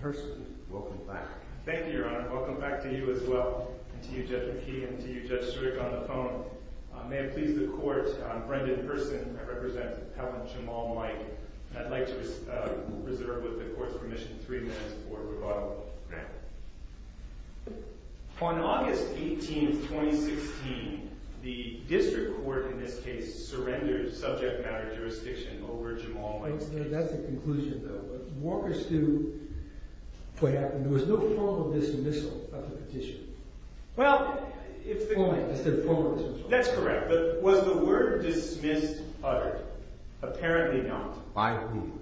Hearson. Welcome back. Thank you, Your Honor. Welcome back to you as well. And to you, Judge McKee, and to you, Judge Strick, on the phone. May it please the Court, I'm Brendan Hearson. I represent Appellant Jamal Mike. And I'd like to reserve, with the Court's permission, three minutes for rebuttal. On August 18, 2016, the District Court, in this case, surrendered subject matter jurisdiction over Jamal Mike's case. That's the conclusion, though. What happened? There was no formal dismissal of the petition. Well, it's the point. It's the formal dismissal. That's correct. But was the word dismissed uttered? Apparently not. By whom?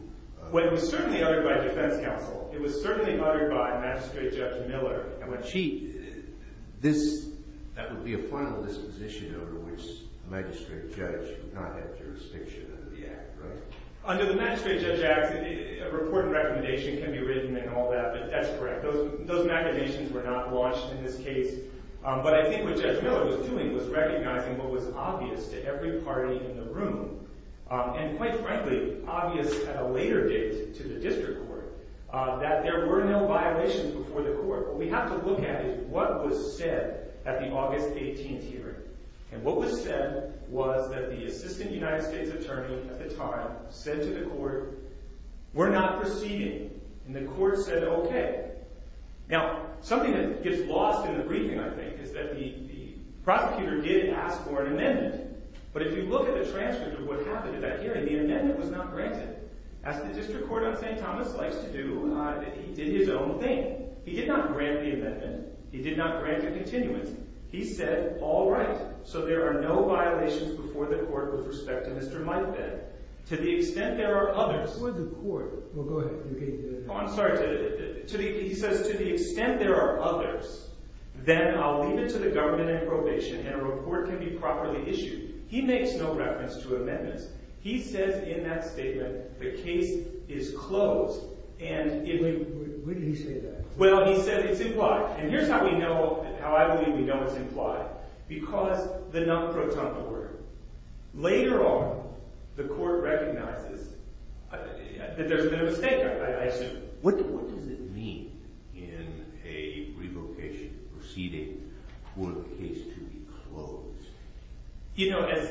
Well, it was certainly uttered by defense counsel. It was certainly uttered by Magistrate Judge Miller. And when she—this—that would be a final disposition over which the Magistrate Judge would not have jurisdiction under the Act, right? Under the Magistrate Judge Act, a report and recommendation can be written and all that, but that's correct. Those recommendations were not launched in this case. But I think what Judge Miller was doing was recognizing what was obvious to every party in the room. And quite frankly, obvious at a later date to the District Court, that there were no violations before the Court. What we have to look at is what was said at the August 18 hearing. And what was said was that the Assistant United States Attorney at the time said to the Court, We're not proceeding. And the Court said, OK. Now, something that gets lost in the briefing, I think, is that the prosecutor did ask for an amendment. But if you look at the transcript of what happened at that hearing, the amendment was not granted. As the District Court on St. Thomas likes to do, he did his own thing. He did not grant the amendment. He did not grant a continuance. He said, all right, so there are no violations before the Court with respect to Mr. Mike Benn. To the extent there are others, he says, to the extent there are others, then I'll leave it to the government in probation. And a report can be properly issued. He makes no reference to amendments. He says in that statement, the case is closed. Wait, what did he say there? Well, he said it's implied. And here's how I believe we know it's implied. Because the non-protonical word. Later on, the Court recognizes that there's been a mistake, I assume. What does it mean in a revocation proceeding for a case to be closed? You know, as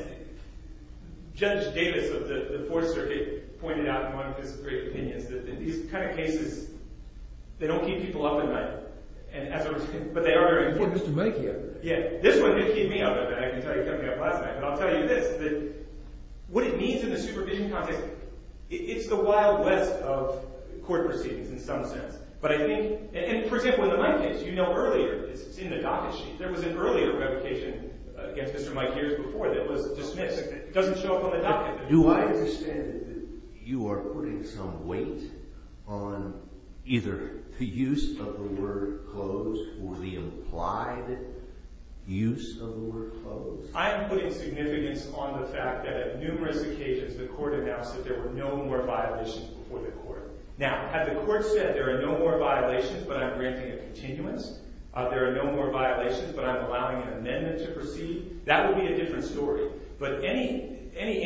Judge Davis of the Fourth Circuit pointed out in one of his great opinions, these kind of cases, they don't keep people up at night. But they are very important. This one did keep me up at night. I can tell you it kept me up last night. But I'll tell you this, what it means in the supervision context, it's the wild west of court proceedings in some sense. But I think, for example, in the Mike case, you know earlier, it's in the docket sheet, there was an earlier revocation against Mr. Mike here before that was dismissed. It doesn't show up on the docket. Do I understand that you are putting some weight on either the use of the word closed or the implied use of the word closed? I am putting significance on the fact that at numerous occasions the Court announced that there were no more violations before the Court. Now, had the Court said there are no more violations but I'm granting a continuance, there are no more violations but I'm allowing an amendment to proceed, that would be a different story. But any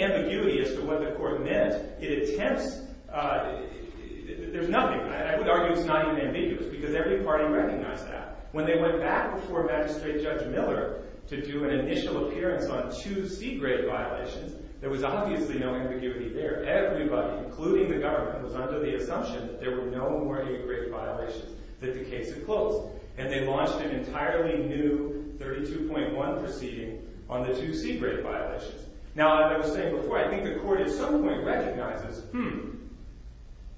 ambiguity as to what the Court meant, it attempts, there's nothing. I would argue it's not even ambiguous because every party recognized that. When they went back before Magistrate Judge Miller to do an initial appearance on two C-grade violations, there was obviously no ambiguity there. Everybody, including the government, was under the assumption that there were no more A-grade violations that the case had closed. And they launched an entirely new 32.1 proceeding on the two C-grade violations. Now, as I was saying before, I think the Court at some point recognizes, hmm,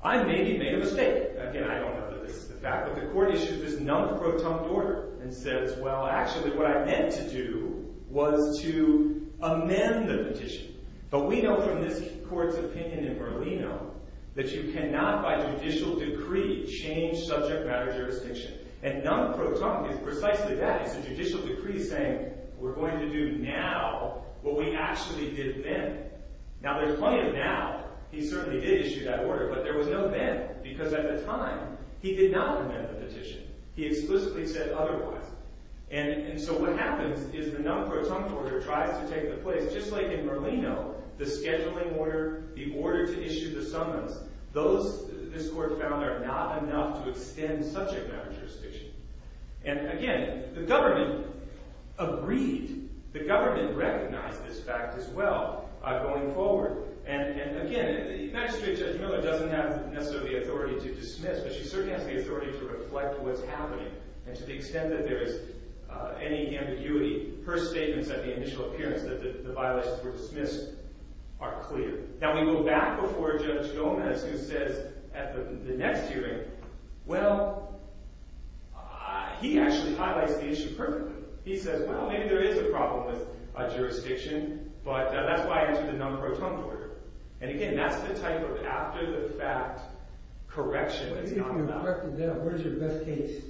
I maybe made a mistake. Again, I don't know that this is the fact. But the Court issued this non-proton order and says, well, actually what I meant to do was to amend the petition. But we know from this Court's opinion in Merlino that you cannot by judicial decree change subject matter jurisdiction. And non-proton is precisely that. It's a judicial decree saying we're going to do now what we actually did then. Now, there's plenty of now. He certainly did issue that order. But there was no then because at the time, he did not amend the petition. He explicitly said otherwise. And so what happens is the non-proton order tries to take the place. Just like in Merlino, the scheduling order, the order to issue the summons, this Court found are not enough to extend subject matter jurisdiction. And again, the government agreed. The government recognized this fact as well going forward. And again, the magistrate, Judge Miller, doesn't have necessarily the authority to dismiss. But she certainly has the authority to reflect what's happening. And to the extent that there is any ambiguity, her statements at the initial appearance that the violations were dismissed are clear. Now, we go back before Judge Gomez who says at the next hearing, well, he actually highlights the issue perfectly. He says, well, maybe there is a problem with jurisdiction, but that's why I issued the non-proton order. And again, that's the type of after-the-fact correction that's not allowed. What is your best case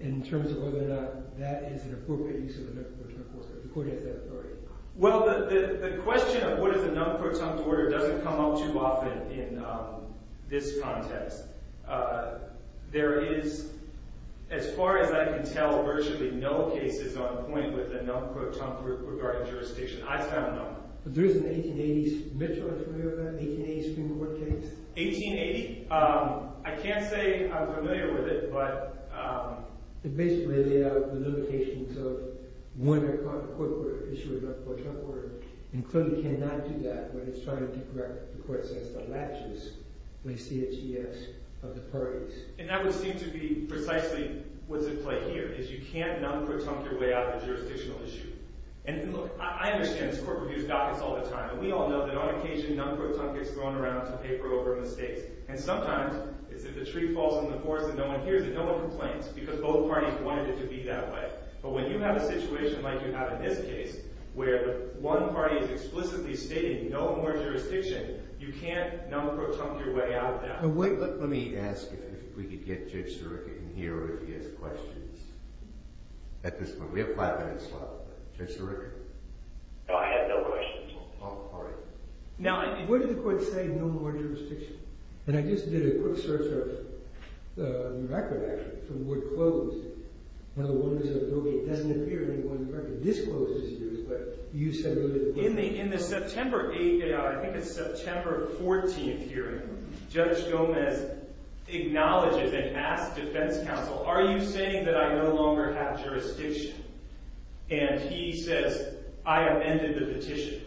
in terms of whether or not that is an appropriate use of the non-proton force if the court has that authority? Well, the question of what is a non-proton order doesn't come up too often in this context. There is, as far as I can tell, virtually no cases on point with a non-proton court regarding jurisdiction. I found none. But there is an 1880s – Mitchell, are you familiar with that 1880 Supreme Court case? 1880? I can't say I'm familiar with it, but – It basically laid out the limitations of when a court issued a non-proton order. And clearly cannot do that when it's trying to correct the court says the latches, the CHES of the parties. And that would seem to be precisely what's at play here is you can't non-proton your way out of a jurisdictional issue. And look, I understand this. Court reviews documents all the time, and we all know that on occasion non-proton gets thrown around to pay for over mistakes. And sometimes it's if the tree falls in the forest and no one hears it, no one complains because both parties wanted it to be that way. But when you have a situation like you have in this case where one party is explicitly stating no more jurisdiction, you can't non-proton your way out of that. Now, wait. Let me ask if we could get Judge Sirica in here if he has questions at this point. We have five minutes left. Judge Sirica? No, I have no questions. Oh, all right. Now, where did the court say no more jurisdiction? And I just did a quick search of the record, actually, from the word closed. Now, the one that doesn't appear in any one record discloses yours, but you said no more jurisdiction. In the September 8th – I think it's September 14th hearing, Judge Gomez acknowledges and asks defense counsel, are you saying that I no longer have jurisdiction? And he says, I amended the petition.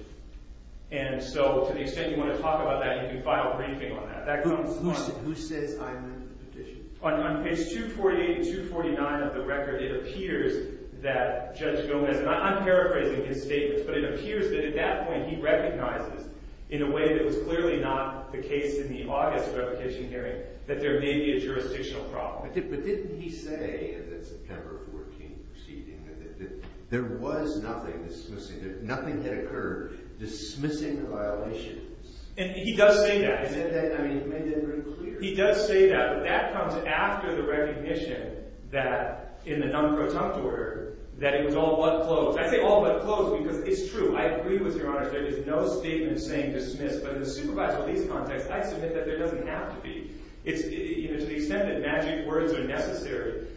And so to the extent you want to talk about that, you can file a briefing on that. Who says I amended the petition? On page 248 and 249 of the record, it appears that Judge Gomez – and I'm paraphrasing his statements – but it appears that at that point he recognizes in a way that was clearly not the case in the August repetition hearing that there may be a jurisdictional problem. But didn't he say at the September 14th proceeding that there was nothing dismissing – that nothing had occurred dismissing violations? And he does say that. He said that – I mean, he made that very clear. He does say that, but that comes after the recognition that in the non-protunct order that it was all but closed. I say all but closed because it's true. I agree with Your Honor that there's no statement saying dismiss, but in the supervised police context, I submit that there doesn't have to be. To the extent that magic words are necessary,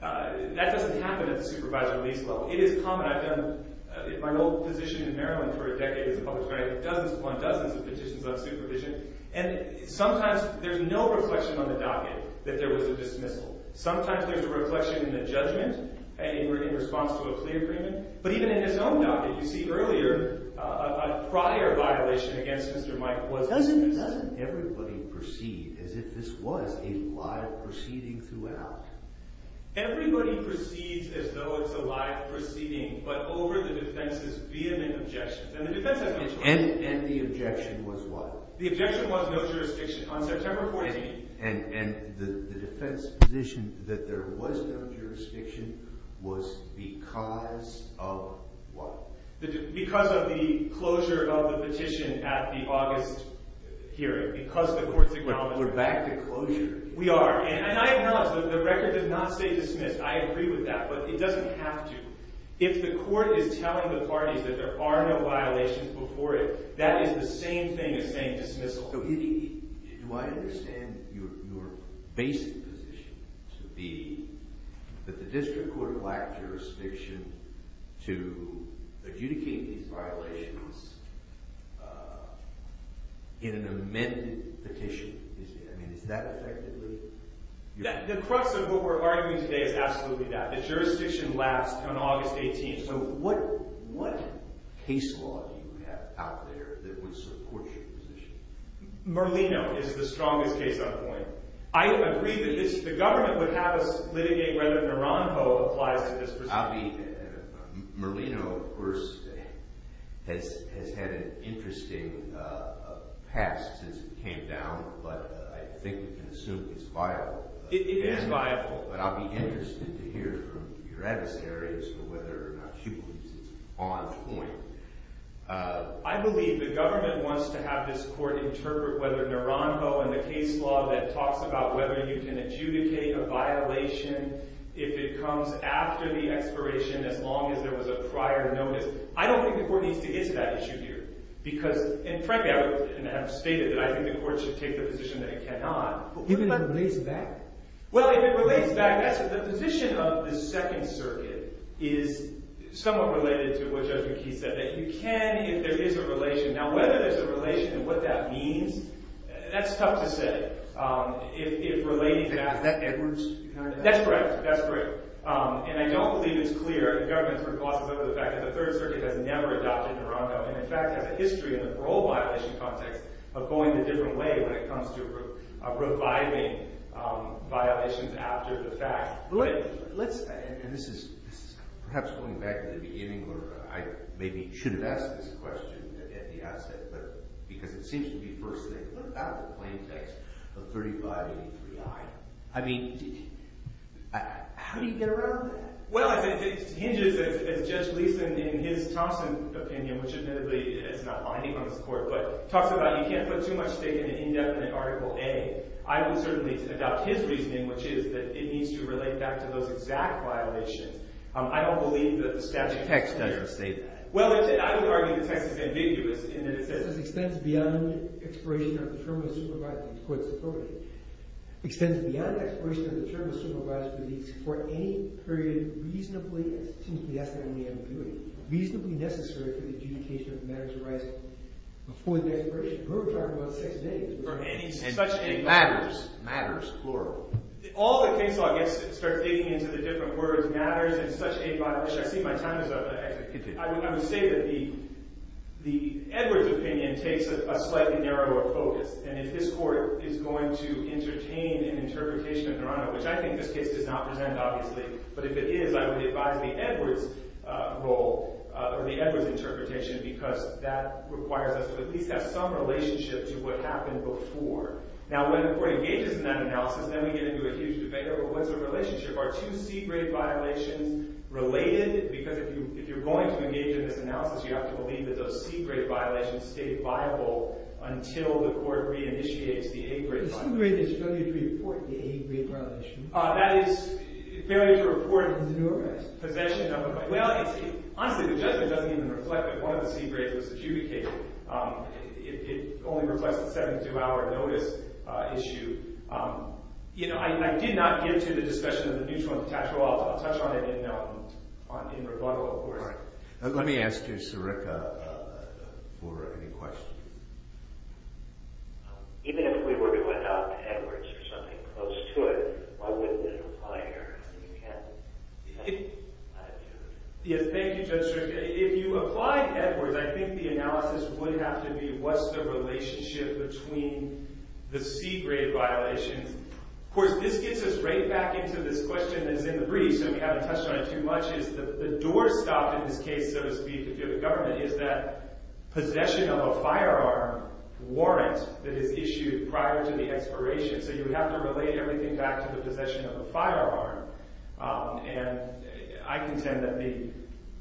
that doesn't happen at the supervised police level. It is common. I've done my position in Maryland for a decade as a public defender. I've done dozens upon dozens of petitions on supervision. And sometimes there's no reflection on the docket that there was a dismissal. Sometimes there's a reflection in the judgment in response to a plea agreement. But even in his own docket, you see earlier a prior violation against Mr. Mike was – Well, doesn't everybody proceed as if this was a live proceeding throughout? Everybody proceeds as though it's a live proceeding but over the defense's vehement objections. And the defense has no choice. And the objection was what? The objection was no jurisdiction. On September 14th – And the defense's position that there was no jurisdiction was because of what? Because of the closure of the petition at the August hearing. Because the court's acknowledgment – We're back to closure. We are. And I acknowledge that the record does not say dismiss. I agree with that. But it doesn't have to. If the court is telling the parties that there are no violations before it, that is the same thing as saying dismissal. Do I understand your basic position to be that the district court lacked jurisdiction to adjudicate these violations in an amended petition? I mean, is that effectively – The crux of what we're arguing today is absolutely that. The jurisdiction lapsed on August 18th. So what case law do you have out there that would support your position? Merlino is the strongest case on point. I agree that the government would have us litigate whether Naranjo applies to this proceeding. Merlino, of course, has had an interesting past since it came down, but I think we can assume it's viable. It is viable. But I'll be interested to hear from your adversaries whether or not she believes it's on point. I believe the government wants to have this court interpret whether Naranjo and the case law that talks about whether you can adjudicate a violation if it comes after the expiration as long as there was a prior notice. I don't think the court needs to get to that issue here. Because – and frankly, I have stated that I think the court should take the position that it cannot. Even if it lays back? Well, if it relates back – the position of the Second Circuit is somewhat related to what Judge McKee said. That you can if there is a relation. Now, whether there's a relation and what that means, that's tough to say. If relating back – Is that Edwards? That's correct. That's correct. And I don't believe it's clear. The government's recourse is over the fact that the Third Circuit has never adopted Naranjo and, in fact, has a history in the parole violation context of going the different way when it comes to reviving violations after the fact. Let's – and this is perhaps going back to the beginning where I maybe should have asked this question at the outset. But – because it seems to be first thing. What about the plain text of 3583I? I mean, how do you get around that? Well, it hinges, as Judge Leeson in his Thompson opinion, which admittedly is not binding on this court, but talks about you can't put too much stake in an indefinite Article A. I would certainly adopt his reasoning, which is that it needs to relate back to those exact violations. I don't believe that the statute is clear. The text doesn't say that. Well, I would argue the text is ambiguous in that it says –– extends beyond the expiration of the term of supervised release for any period reasonably – it seems to me that's the only ambiguity – reasonably necessary for the adjudication of matters arising before the expiration. We're talking about six days. For any – such a – Matters. Matters. Plural. All the case law gets – starts digging into the different words matters and such a – which I see my time is up. I would say that the Edwards opinion takes a slightly narrower focus. And if this court is going to entertain an interpretation of Toronto, which I think this case does not present, obviously, but if it is, I would advise the Edwards role, or the Edwards interpretation, because that requires us to at least have some relationship to what happened before. Now, when the court engages in that analysis, then we get into a huge debate over what's the relationship? Are two C-grade violations related? Because if you're going to engage in this analysis, you have to believe that those C-grade violations stayed viable until the court reinitiates the A-grade violation. The C-grade is fairly to report the A-grade violation. That is fairly to report. It is an arrest. Possession of a – well, it's – honestly, the judgment doesn't even reflect that one of the C-grades was adjudicated. It only reflects the 72-hour notice issue. I did not get into the discussion of the mutual impotential. I'll touch on it in rebuttal, of course. Let me ask you, Sirica, for any questions. Even if we were to adopt Edwards or something close to it, why wouldn't it apply here? Yes, thank you, Judge Sirica. If you applied Edwards, I think the analysis would have to be what's the relationship between the C-grade violations. Of course, this gets us right back into this question that's in the brief, so we haven't touched on it too much. The doorstop in this case, so to speak, if you have a government, is that possession of a firearm warrant that is issued prior to the expiration. So you would have to relate everything back to the possession of a firearm. And I contend that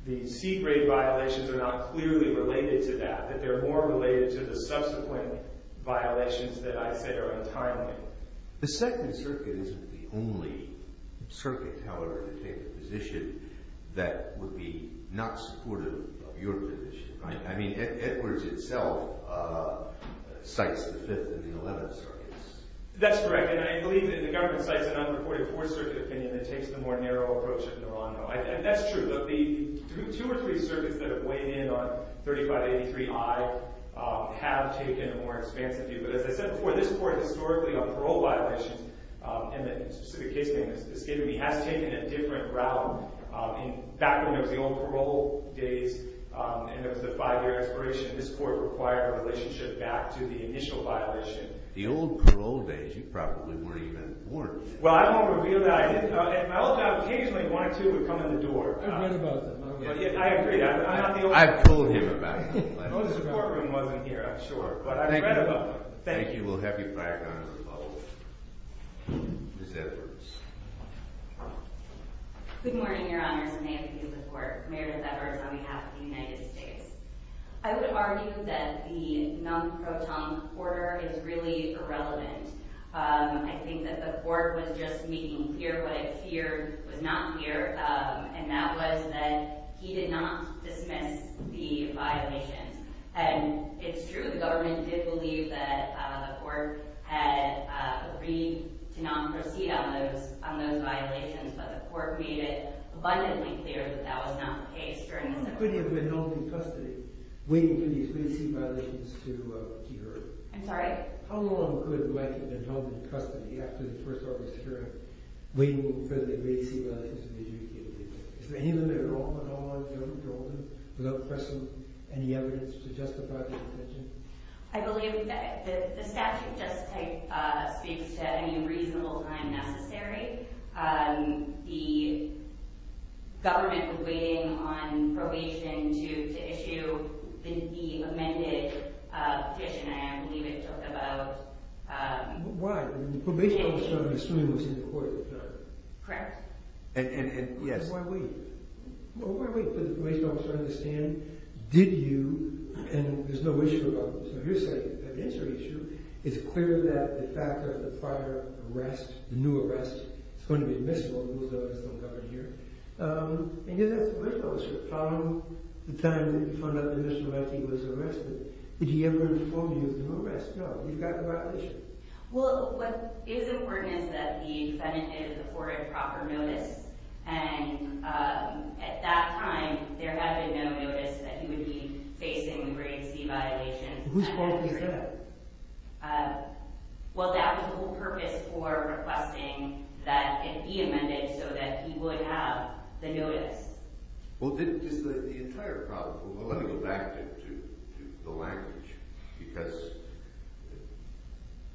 the C-grade violations are not clearly related to that, that they're more related to the subsequent violations that I say are untimely. The Second Circuit isn't the only circuit, however, in a favor position that would be not supportive of your position, right? I mean, Edwards itself cites the Fifth and the Eleventh Circuits. That's correct, and I believe that the government cites an unreported Fourth Circuit opinion that takes the more narrow approach of Naranjo. And that's true. The two or three circuits that have weighed in on 3583I have taken a more expansive view. But as I said before, this Court, historically, on parole violations, and the specific case name that's given to me, has taken a different route. Back when there was the old parole days and there was the five-year expiration, this Court required a relationship back to the initial violation. The old parole days, you probably weren't even born. Well, I won't reveal that. I hope that occasionally one or two would come in the door. I've read about them. I agree, I'm not the only one. I've told him about them. Oh, the support room wasn't here, I'm sure, but I've read about them. Thank you. Thank you. We'll have you back on as a follow-up. Ms. Edwards. Good morning, Your Honors, and may it please the Court. Meredith Edwards on behalf of the United States. I would argue that the non-proton order is really irrelevant. I think that the Court was just making clear what it feared was not clear, and that was that he did not dismiss the violations. And it's true, the government did believe that the Court had agreed to not proceed on those violations, but the Court made it abundantly clear that that was not the case during the session. How long could he have been held in custody, waiting for these great sea violations to occur? I'm sorry? How long could a man have been held in custody after the first order of security, waiting for the great sea violations to be executed? Is there any limit on that, Your Honor, without pressing any evidence to justify his detention? I believe that the statute just speaks to any reasonable time necessary. The government was waiting on probation to issue the amended petition, and I believe it talked about... Why? The probation officer, I'm assuming, was in the Court, correct? Correct. And why wait? Why wait for the probation officer to stand? Did you, and there's no issue about this on your side, it's a clear that the fact that the prior arrest, the new arrest, is going to be admissible, those others don't govern here, and yet that's the probation officer. How long, the time that you found out that Mr. Mackey was arrested, did he ever inform you of the new arrest? No, you've got the violation. Well, what is important is that the defendant is afforded proper notice, and at that time, there had been no notice that he would be facing the great sea violations. Whose fault was that? Well, that was the whole purpose for requesting that it be amended so that he would have the notice. Well, then, just the entire problem, well, let me go back to the language, because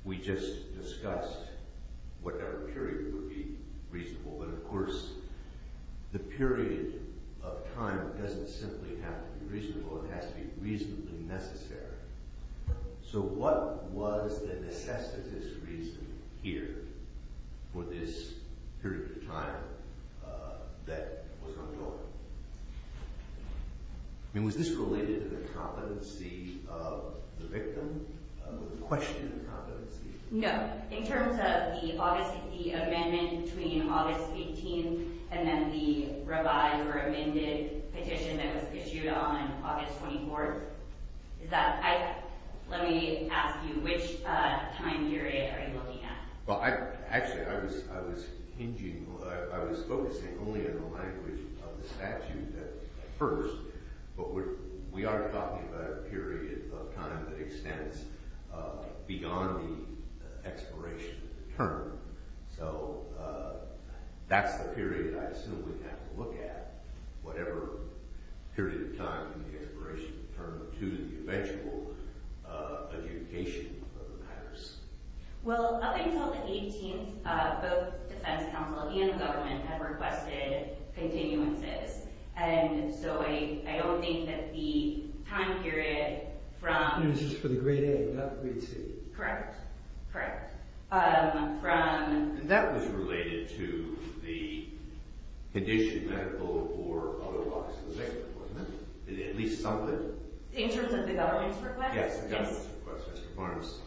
we just discussed what our period would be reasonable, but of course, the period of time doesn't simply have to be reasonable, it has to be reasonably necessary. So, what was the necessity reason here for this period of time that was on hold? I mean, was this related to the competency of the victim? Was it a question of competency? No, in terms of the August, the amendment between August 18th and then the revised or amended petition that was issued on August 24th, let me ask you, which time period are you looking at? Well, actually, I was focusing only on the language of the statute at first, but we are talking about a period of time that extends beyond the expiration of the term. So, that's the period I assume we have to look at, whatever period of time from the expiration of the term to the eventual adjudication of the matters. Well, up until the 18th, both the defense counsel and the government have requested continuances, and so I don't think that the time period from… This is for the great A, not the great C. Correct, correct. And that was related to the condition, medical or otherwise, of the victim, wasn't it? At least some of it? In terms of the government's request? Yes, the government's request, Mr. Barnes.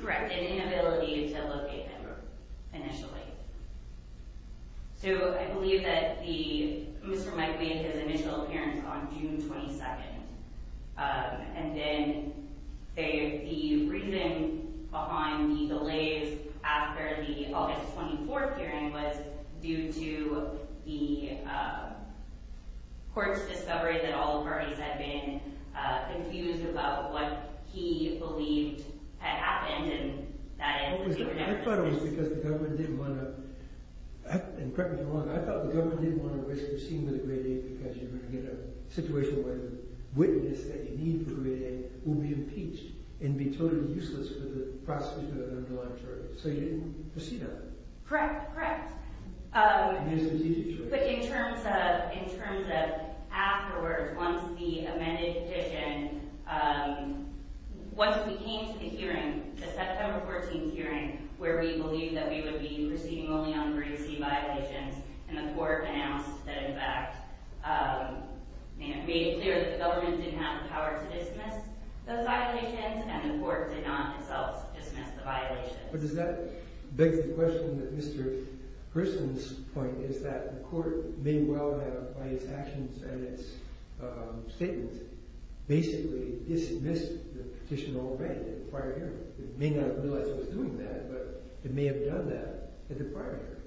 Correct, and inability to locate them initially. So, I believe that Mr. Mike made his initial appearance on June 22nd, and then the reason behind the delays after the August 24th hearing was due to the court's discovery that all parties had been confused about what he believed had happened, and that is… I thought it was because the government didn't want to, and correct me if I'm wrong, I thought the government didn't want to proceed with the great A because you were going to get a situation where the witness that you need for the great A will be impeached and be totally useless for the prosecution of an undelivered charge. So, you didn't proceed on it. Correct, correct. Yes, it was easy for you. But in terms of afterwards, once the amended petition, once we came to the hearing, the September 14th hearing, where we believed that we would be proceeding only on emergency violations, and the court announced that in fact, made it clear that the government didn't have the power to dismiss those violations, and the court did not itself dismiss the violations. But does that beg the question that Mr. Grissom's point is that the court may well have, by its actions and its statements, basically dismissed the petition already at the prior hearing. It may not have realized it was doing that, but it may have done that at the prior hearing.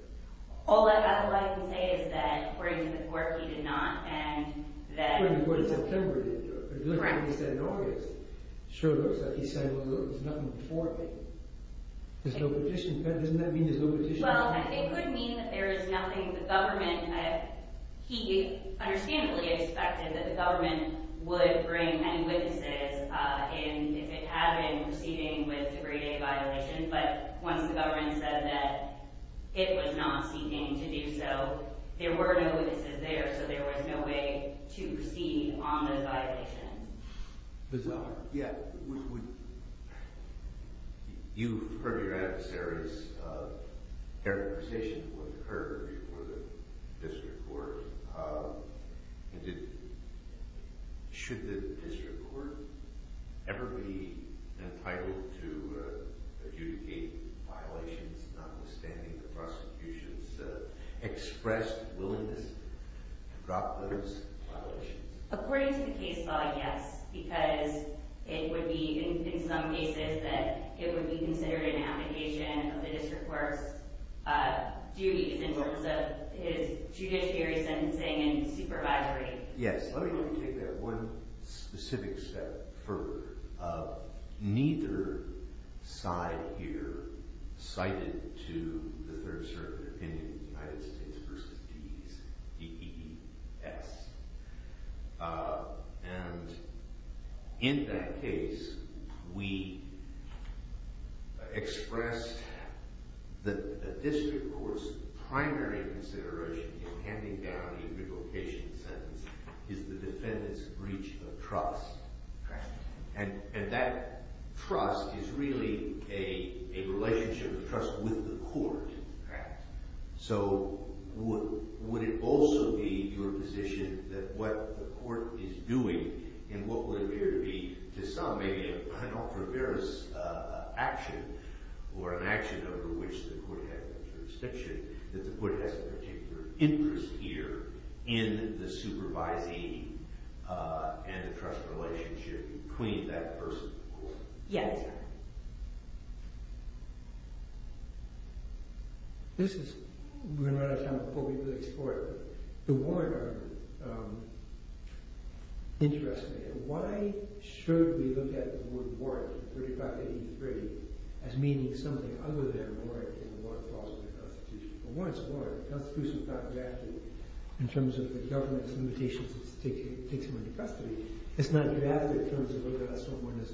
All I can say is that according to the court, he did not, and that... According to the court, in September, he did do it. Correct. But if you look at what he said in August, it showed us that he said, well, look, there's nothing before me. There's no petition. Doesn't that mean there's no petition? Well, it could mean that there is nothing the government... He understandably expected that the government would bring any witnesses in if it had been proceeding with degree-A violations, but once the government said that it was not seeking to do so, there were no witnesses there, so there was no way to proceed on those violations. You've heard your adversary's characterization of what occurred before the district court. Should the district court ever be entitled to adjudicate violations notwithstanding the prosecution's expressed willingness to drop those violations? According to the case law, yes, because it would be, in some cases, that it would be considered an abdication of the district court's duties in terms of his judiciary sentencing and supervisory... And in that case, we expressed the district court's primary consideration in handing down the abdication sentence is the defendant's breach of trust, and that trust is really a relationship of trust with the court. Correct. So would it also be your position that what the court is doing in what would appear to be, to some, maybe an unauthorized action or an action under which the court has jurisdiction, that the court has a particular interest here in the supervising and the trust relationship between that person and the court? Yes. This is, we're going to run out of time before we go to the next court. The warrant argument interests me. Why should we look at the word warrant, 3583, as meaning something other than a warrant in the warrant clause of the Constitution? A warrant's a warrant. The Constitution's not drafted in terms of the government's limitations to take someone into custody. It's not drafted in terms of whether or not someone is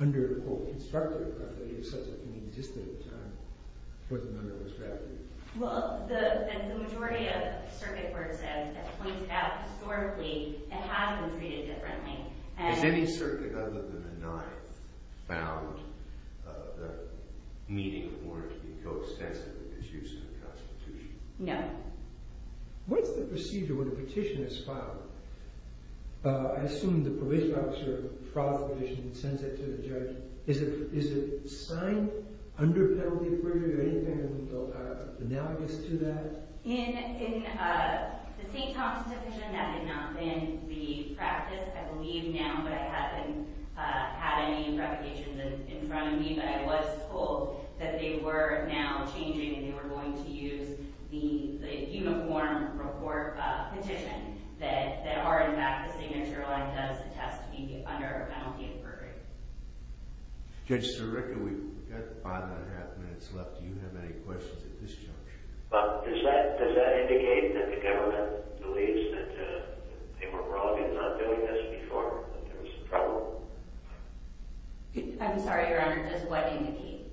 under, quote, constructive custody of such an inexistent time for the member who was drafted. Well, the majority of circuit courts have pointed out historically it has been treated differently. Has any circuit other than the Ninth found the meaning of the word to be coextensive with its use in the Constitution? No. What's the procedure when a petition is filed? I assume the probation officer files the petition and sends it to the judge. Is it signed under penalty for you or anything analogous to that? In the St. Thomas division, that did not, in the practice, I believe now, but it hasn't had any reputations in front of me, but I was told that they were now changing and they were going to use the uniform report petition that are in fact the signature line does attest to being under a penalty of perjury. Judge Sirica, we've got five and a half minutes left. Do you have any questions at this juncture? Does that indicate that the government believes that they were wrong in not doing this before, that there was some trouble? I'm sorry, Your Honor, just what indicate?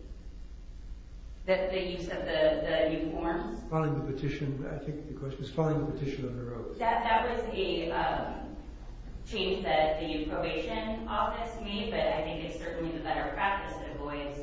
That the use of the uniforms? Filing the petition, I think the question is filing the petition under oath. That was a change that the probation office made, but I think it's certainly the better practice that avoids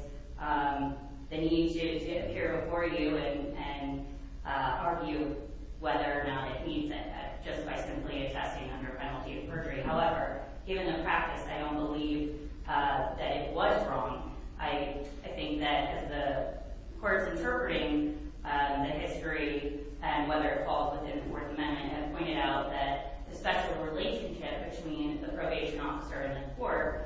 the need to appear before you and argue whether or not it means it just by simply attesting under penalty of perjury. However, given the practice, I don't believe that it was wrong. I think that as the court is interpreting the history and whether it falls within the Fourth Amendment, I pointed out that the special relationship between the probation officer and the court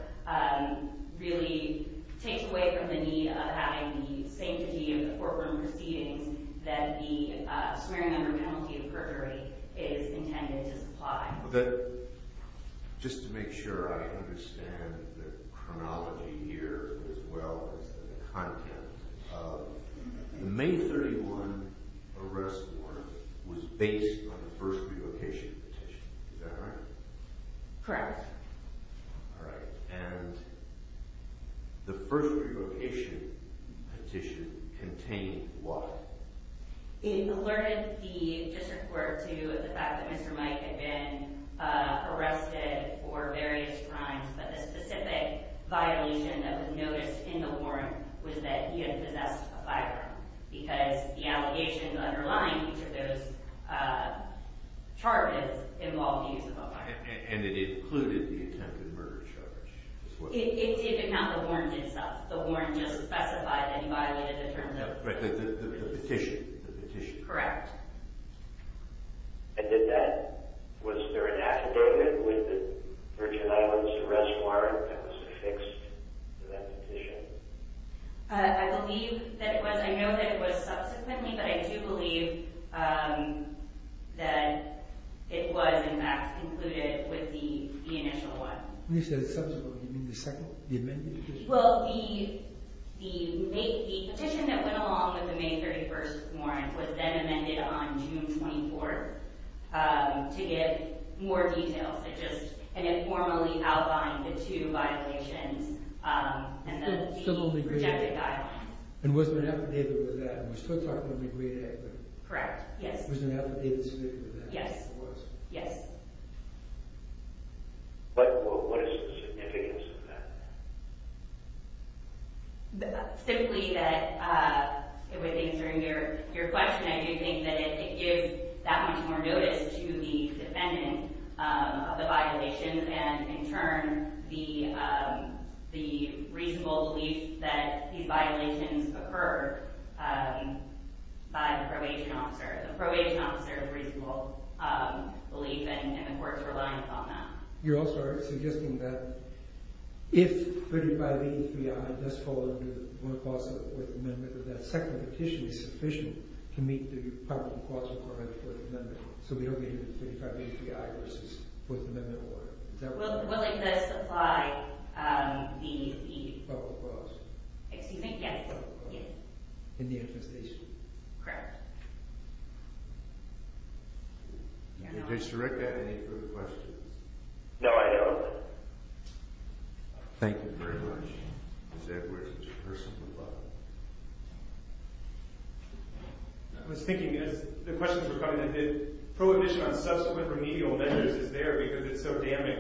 really takes away from the need of having the sanctity of the courtroom proceedings that the swearing under penalty of perjury is intended to supply. Just to make sure I understand the chronology here as well as the content, the May 31 arrest warrant was based on the first relocation petition, is that right? Correct. And the first relocation petition contained what? It alerted the district court to the fact that Mr. Mike had been arrested for various crimes, but the specific violation that was noticed in the warrant was that he had possessed a firearm because the allegations underlying each of those charges involved the use of a firearm. And it included the attempted murder charge? It did not include the warrant itself. The warrant just specified that he violated the terms of the petition. Correct. And did that, was there an affidavit with the Virgin Islands arrest warrant that was affixed to that petition? I believe that it was, I know that it was subsequently, but I do believe that it was in fact included with the initial one. When you say subsequently, do you mean the second, the amended petition? Well, the petition that went along with the May 31st warrant was then amended on June 24th to give more details and just informally outline the two violations and the rejected guidelines. And was there an affidavit with that? I'm still talking about the great equity. Correct, yes. Was there an affidavit specific to that? Yes, yes. But what is the significance of that? Simply that, with answering your question, I do think that it gives that much more notice to the defendant of the violation and in turn the reasonable belief that these violations occurred by the probation officer. The probation officer's reasonable belief and the court's reliance on that. You're also suggesting that if 3583I does fall under the fourth amendment, that that second petition is sufficient to meet the probable cause requirement of the fourth amendment, so we don't get 3583I versus the fourth amendment warrant. Willingness to apply the probable cause. Yes. Correct. Did you just direct that to any further questions? No, I don't. Thank you very much. Ms. Edwards, it's your person at the bottom. I was thinking, as the questions were coming in, that prohibition on subsequent remedial measures is there because it's so damning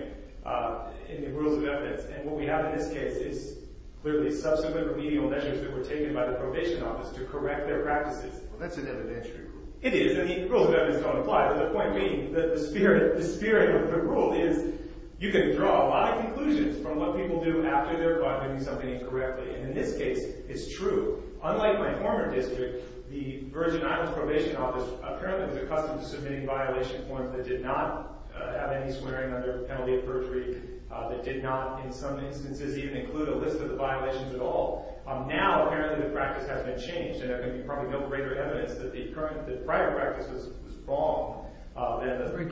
in the rules of evidence. And what we have in this case is clearly subsequent remedial measures that were taken by the probation office to correct their practices. Well, that's an evidentiary rule. It is. And the rules of evidence don't apply. But the point being, the spirit of the rule is you can draw a lot of conclusions from what people do after they're caught doing something incorrectly. And in this case, it's true. Unlike my former district, the Virgin Islands Probation Office apparently was accustomed to submitting violation forms that did not have any swearing under penalty of perjury, that did not in some instances even include a list of the violations at all. Now, apparently, the practice has been changed. And there can be probably no greater evidence that the prior practice was wrong than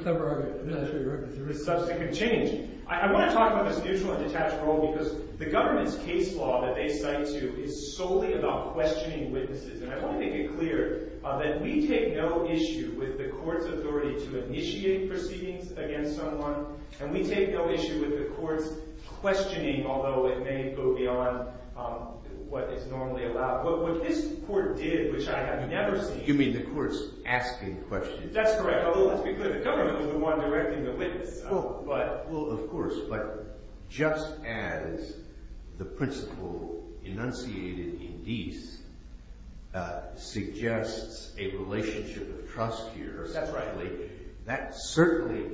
the subsequent change. I want to talk about this neutral and detached rule because the government's case law that they cite to is solely about questioning witnesses. And I want to make it clear that we take no issue with the court's authority to initiate proceedings against someone. And we take no issue with the court's questioning, although it may go beyond what is normally allowed, what this court did, which I have never seen. You mean the court's asking questions? That's correct. Although, let's be clear, the government was the one directing the witness. Well, of course. But just as the principle enunciated in Deese suggests a relationship of trust here essentially, that certainly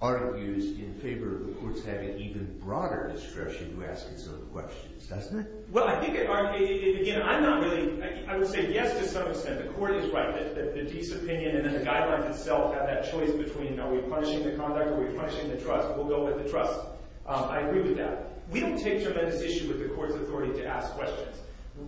argues in favor of the court's having even broader discretion to ask its own questions, doesn't it? Well, I think it – again, I'm not really – I would say yes to some extent. The court is right that Deese's opinion and then the guidelines itself have that choice between are we punishing the conduct or are we punishing the trust. We'll go with the trust. I agree with that. We don't take tremendous issue with the court's authority to ask questions.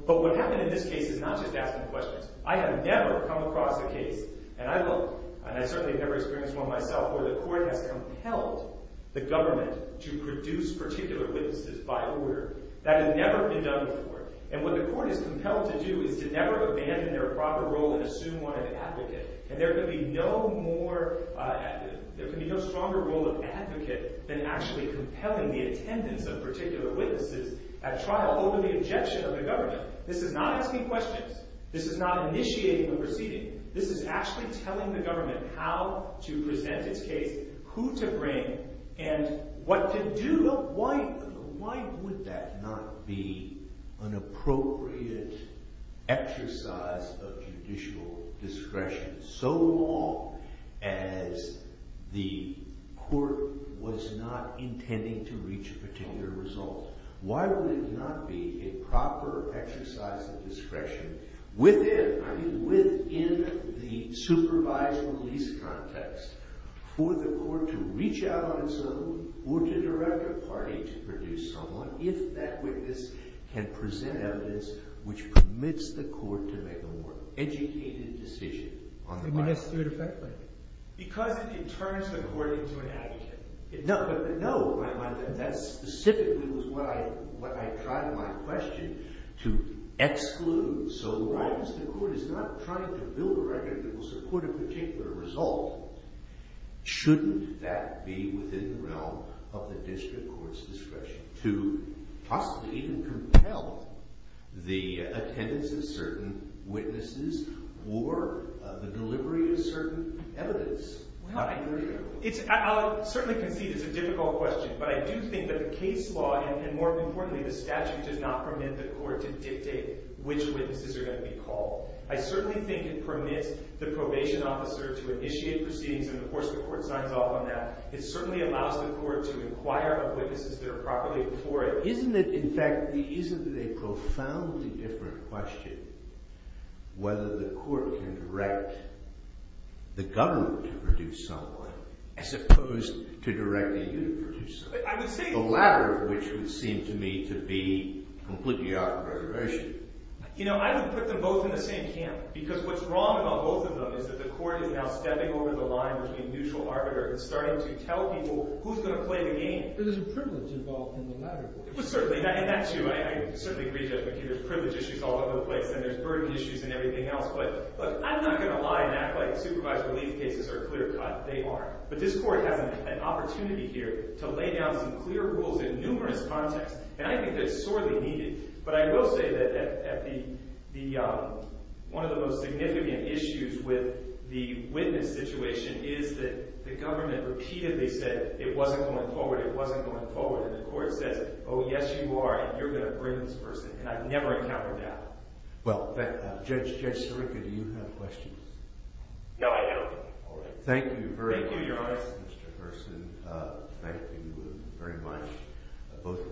But what happened in this case is not just asking questions. I have never come across a case – and I certainly have never experienced one myself – where the court has compelled the government to produce particular witnesses by order. That has never been done before. And what the court is compelled to do is to never abandon their proper role and assume one of the advocate. And there can be no more – there can be no stronger role of advocate than actually compelling the attendance of particular witnesses at trial over the objection of the government. This is not asking questions. This is not initiating a proceeding. This is actually telling the government how to present its case, who to bring, and what to do. Why would that not be an appropriate exercise of judicial discretion so long as the court was not intending to reach a particular result? Why would it not be a proper exercise of discretion within – I mean within the supervised release context for the court to reach out on its own or to direct a party to produce someone if that witness can present evidence which permits the court to make a more educated decision on the matter? Because it turns the court into an advocate. No. That specifically was what I tried in my question to exclude. So long as the court is not trying to build a record that will support a particular result, shouldn't that be within the realm of the district court's discretion to possibly even compel the attendance of certain witnesses or the delivery of certain evidence? I'll certainly concede it's a difficult question, but I do think that the case law and more importantly the statute does not permit the court to dictate which witnesses are going to be called. I certainly think it permits the probation officer to initiate proceedings and of course the court signs off on that. It certainly allows the court to inquire of witnesses that are properly before it. But isn't it – in fact, isn't it a profoundly different question whether the court can direct the government to produce someone as opposed to directing you to produce someone? I would say – The latter of which would seem to me to be completely out of the question. I would put them both in the same camp because what's wrong about both of them is that the court is now stepping over the line between neutral arbiter and starting to tell people who's going to play the game. There's a privilege involved in the latter. Well, certainly, and that's you. I certainly agree, Judge McKee. There's privilege issues all over the place and there's burden issues and everything else. But look, I'm not going to lie and act like supervised relief cases are a clear cut. They aren't. But this court has an opportunity here to lay down some clear rules in numerous contexts and I think that's sorely needed. But I will say that at the – one of the most significant issues with the witness situation is that the government repeatedly said it wasn't going forward, it wasn't going forward, and the court says, oh, yes, you are, and you're going to bring this person. And I've never encountered that. Well, Judge Sirica, do you have questions? No, I don't. All right. Thank you very much. Thank you, Your Honor. Mr. Hurson, thank you very much.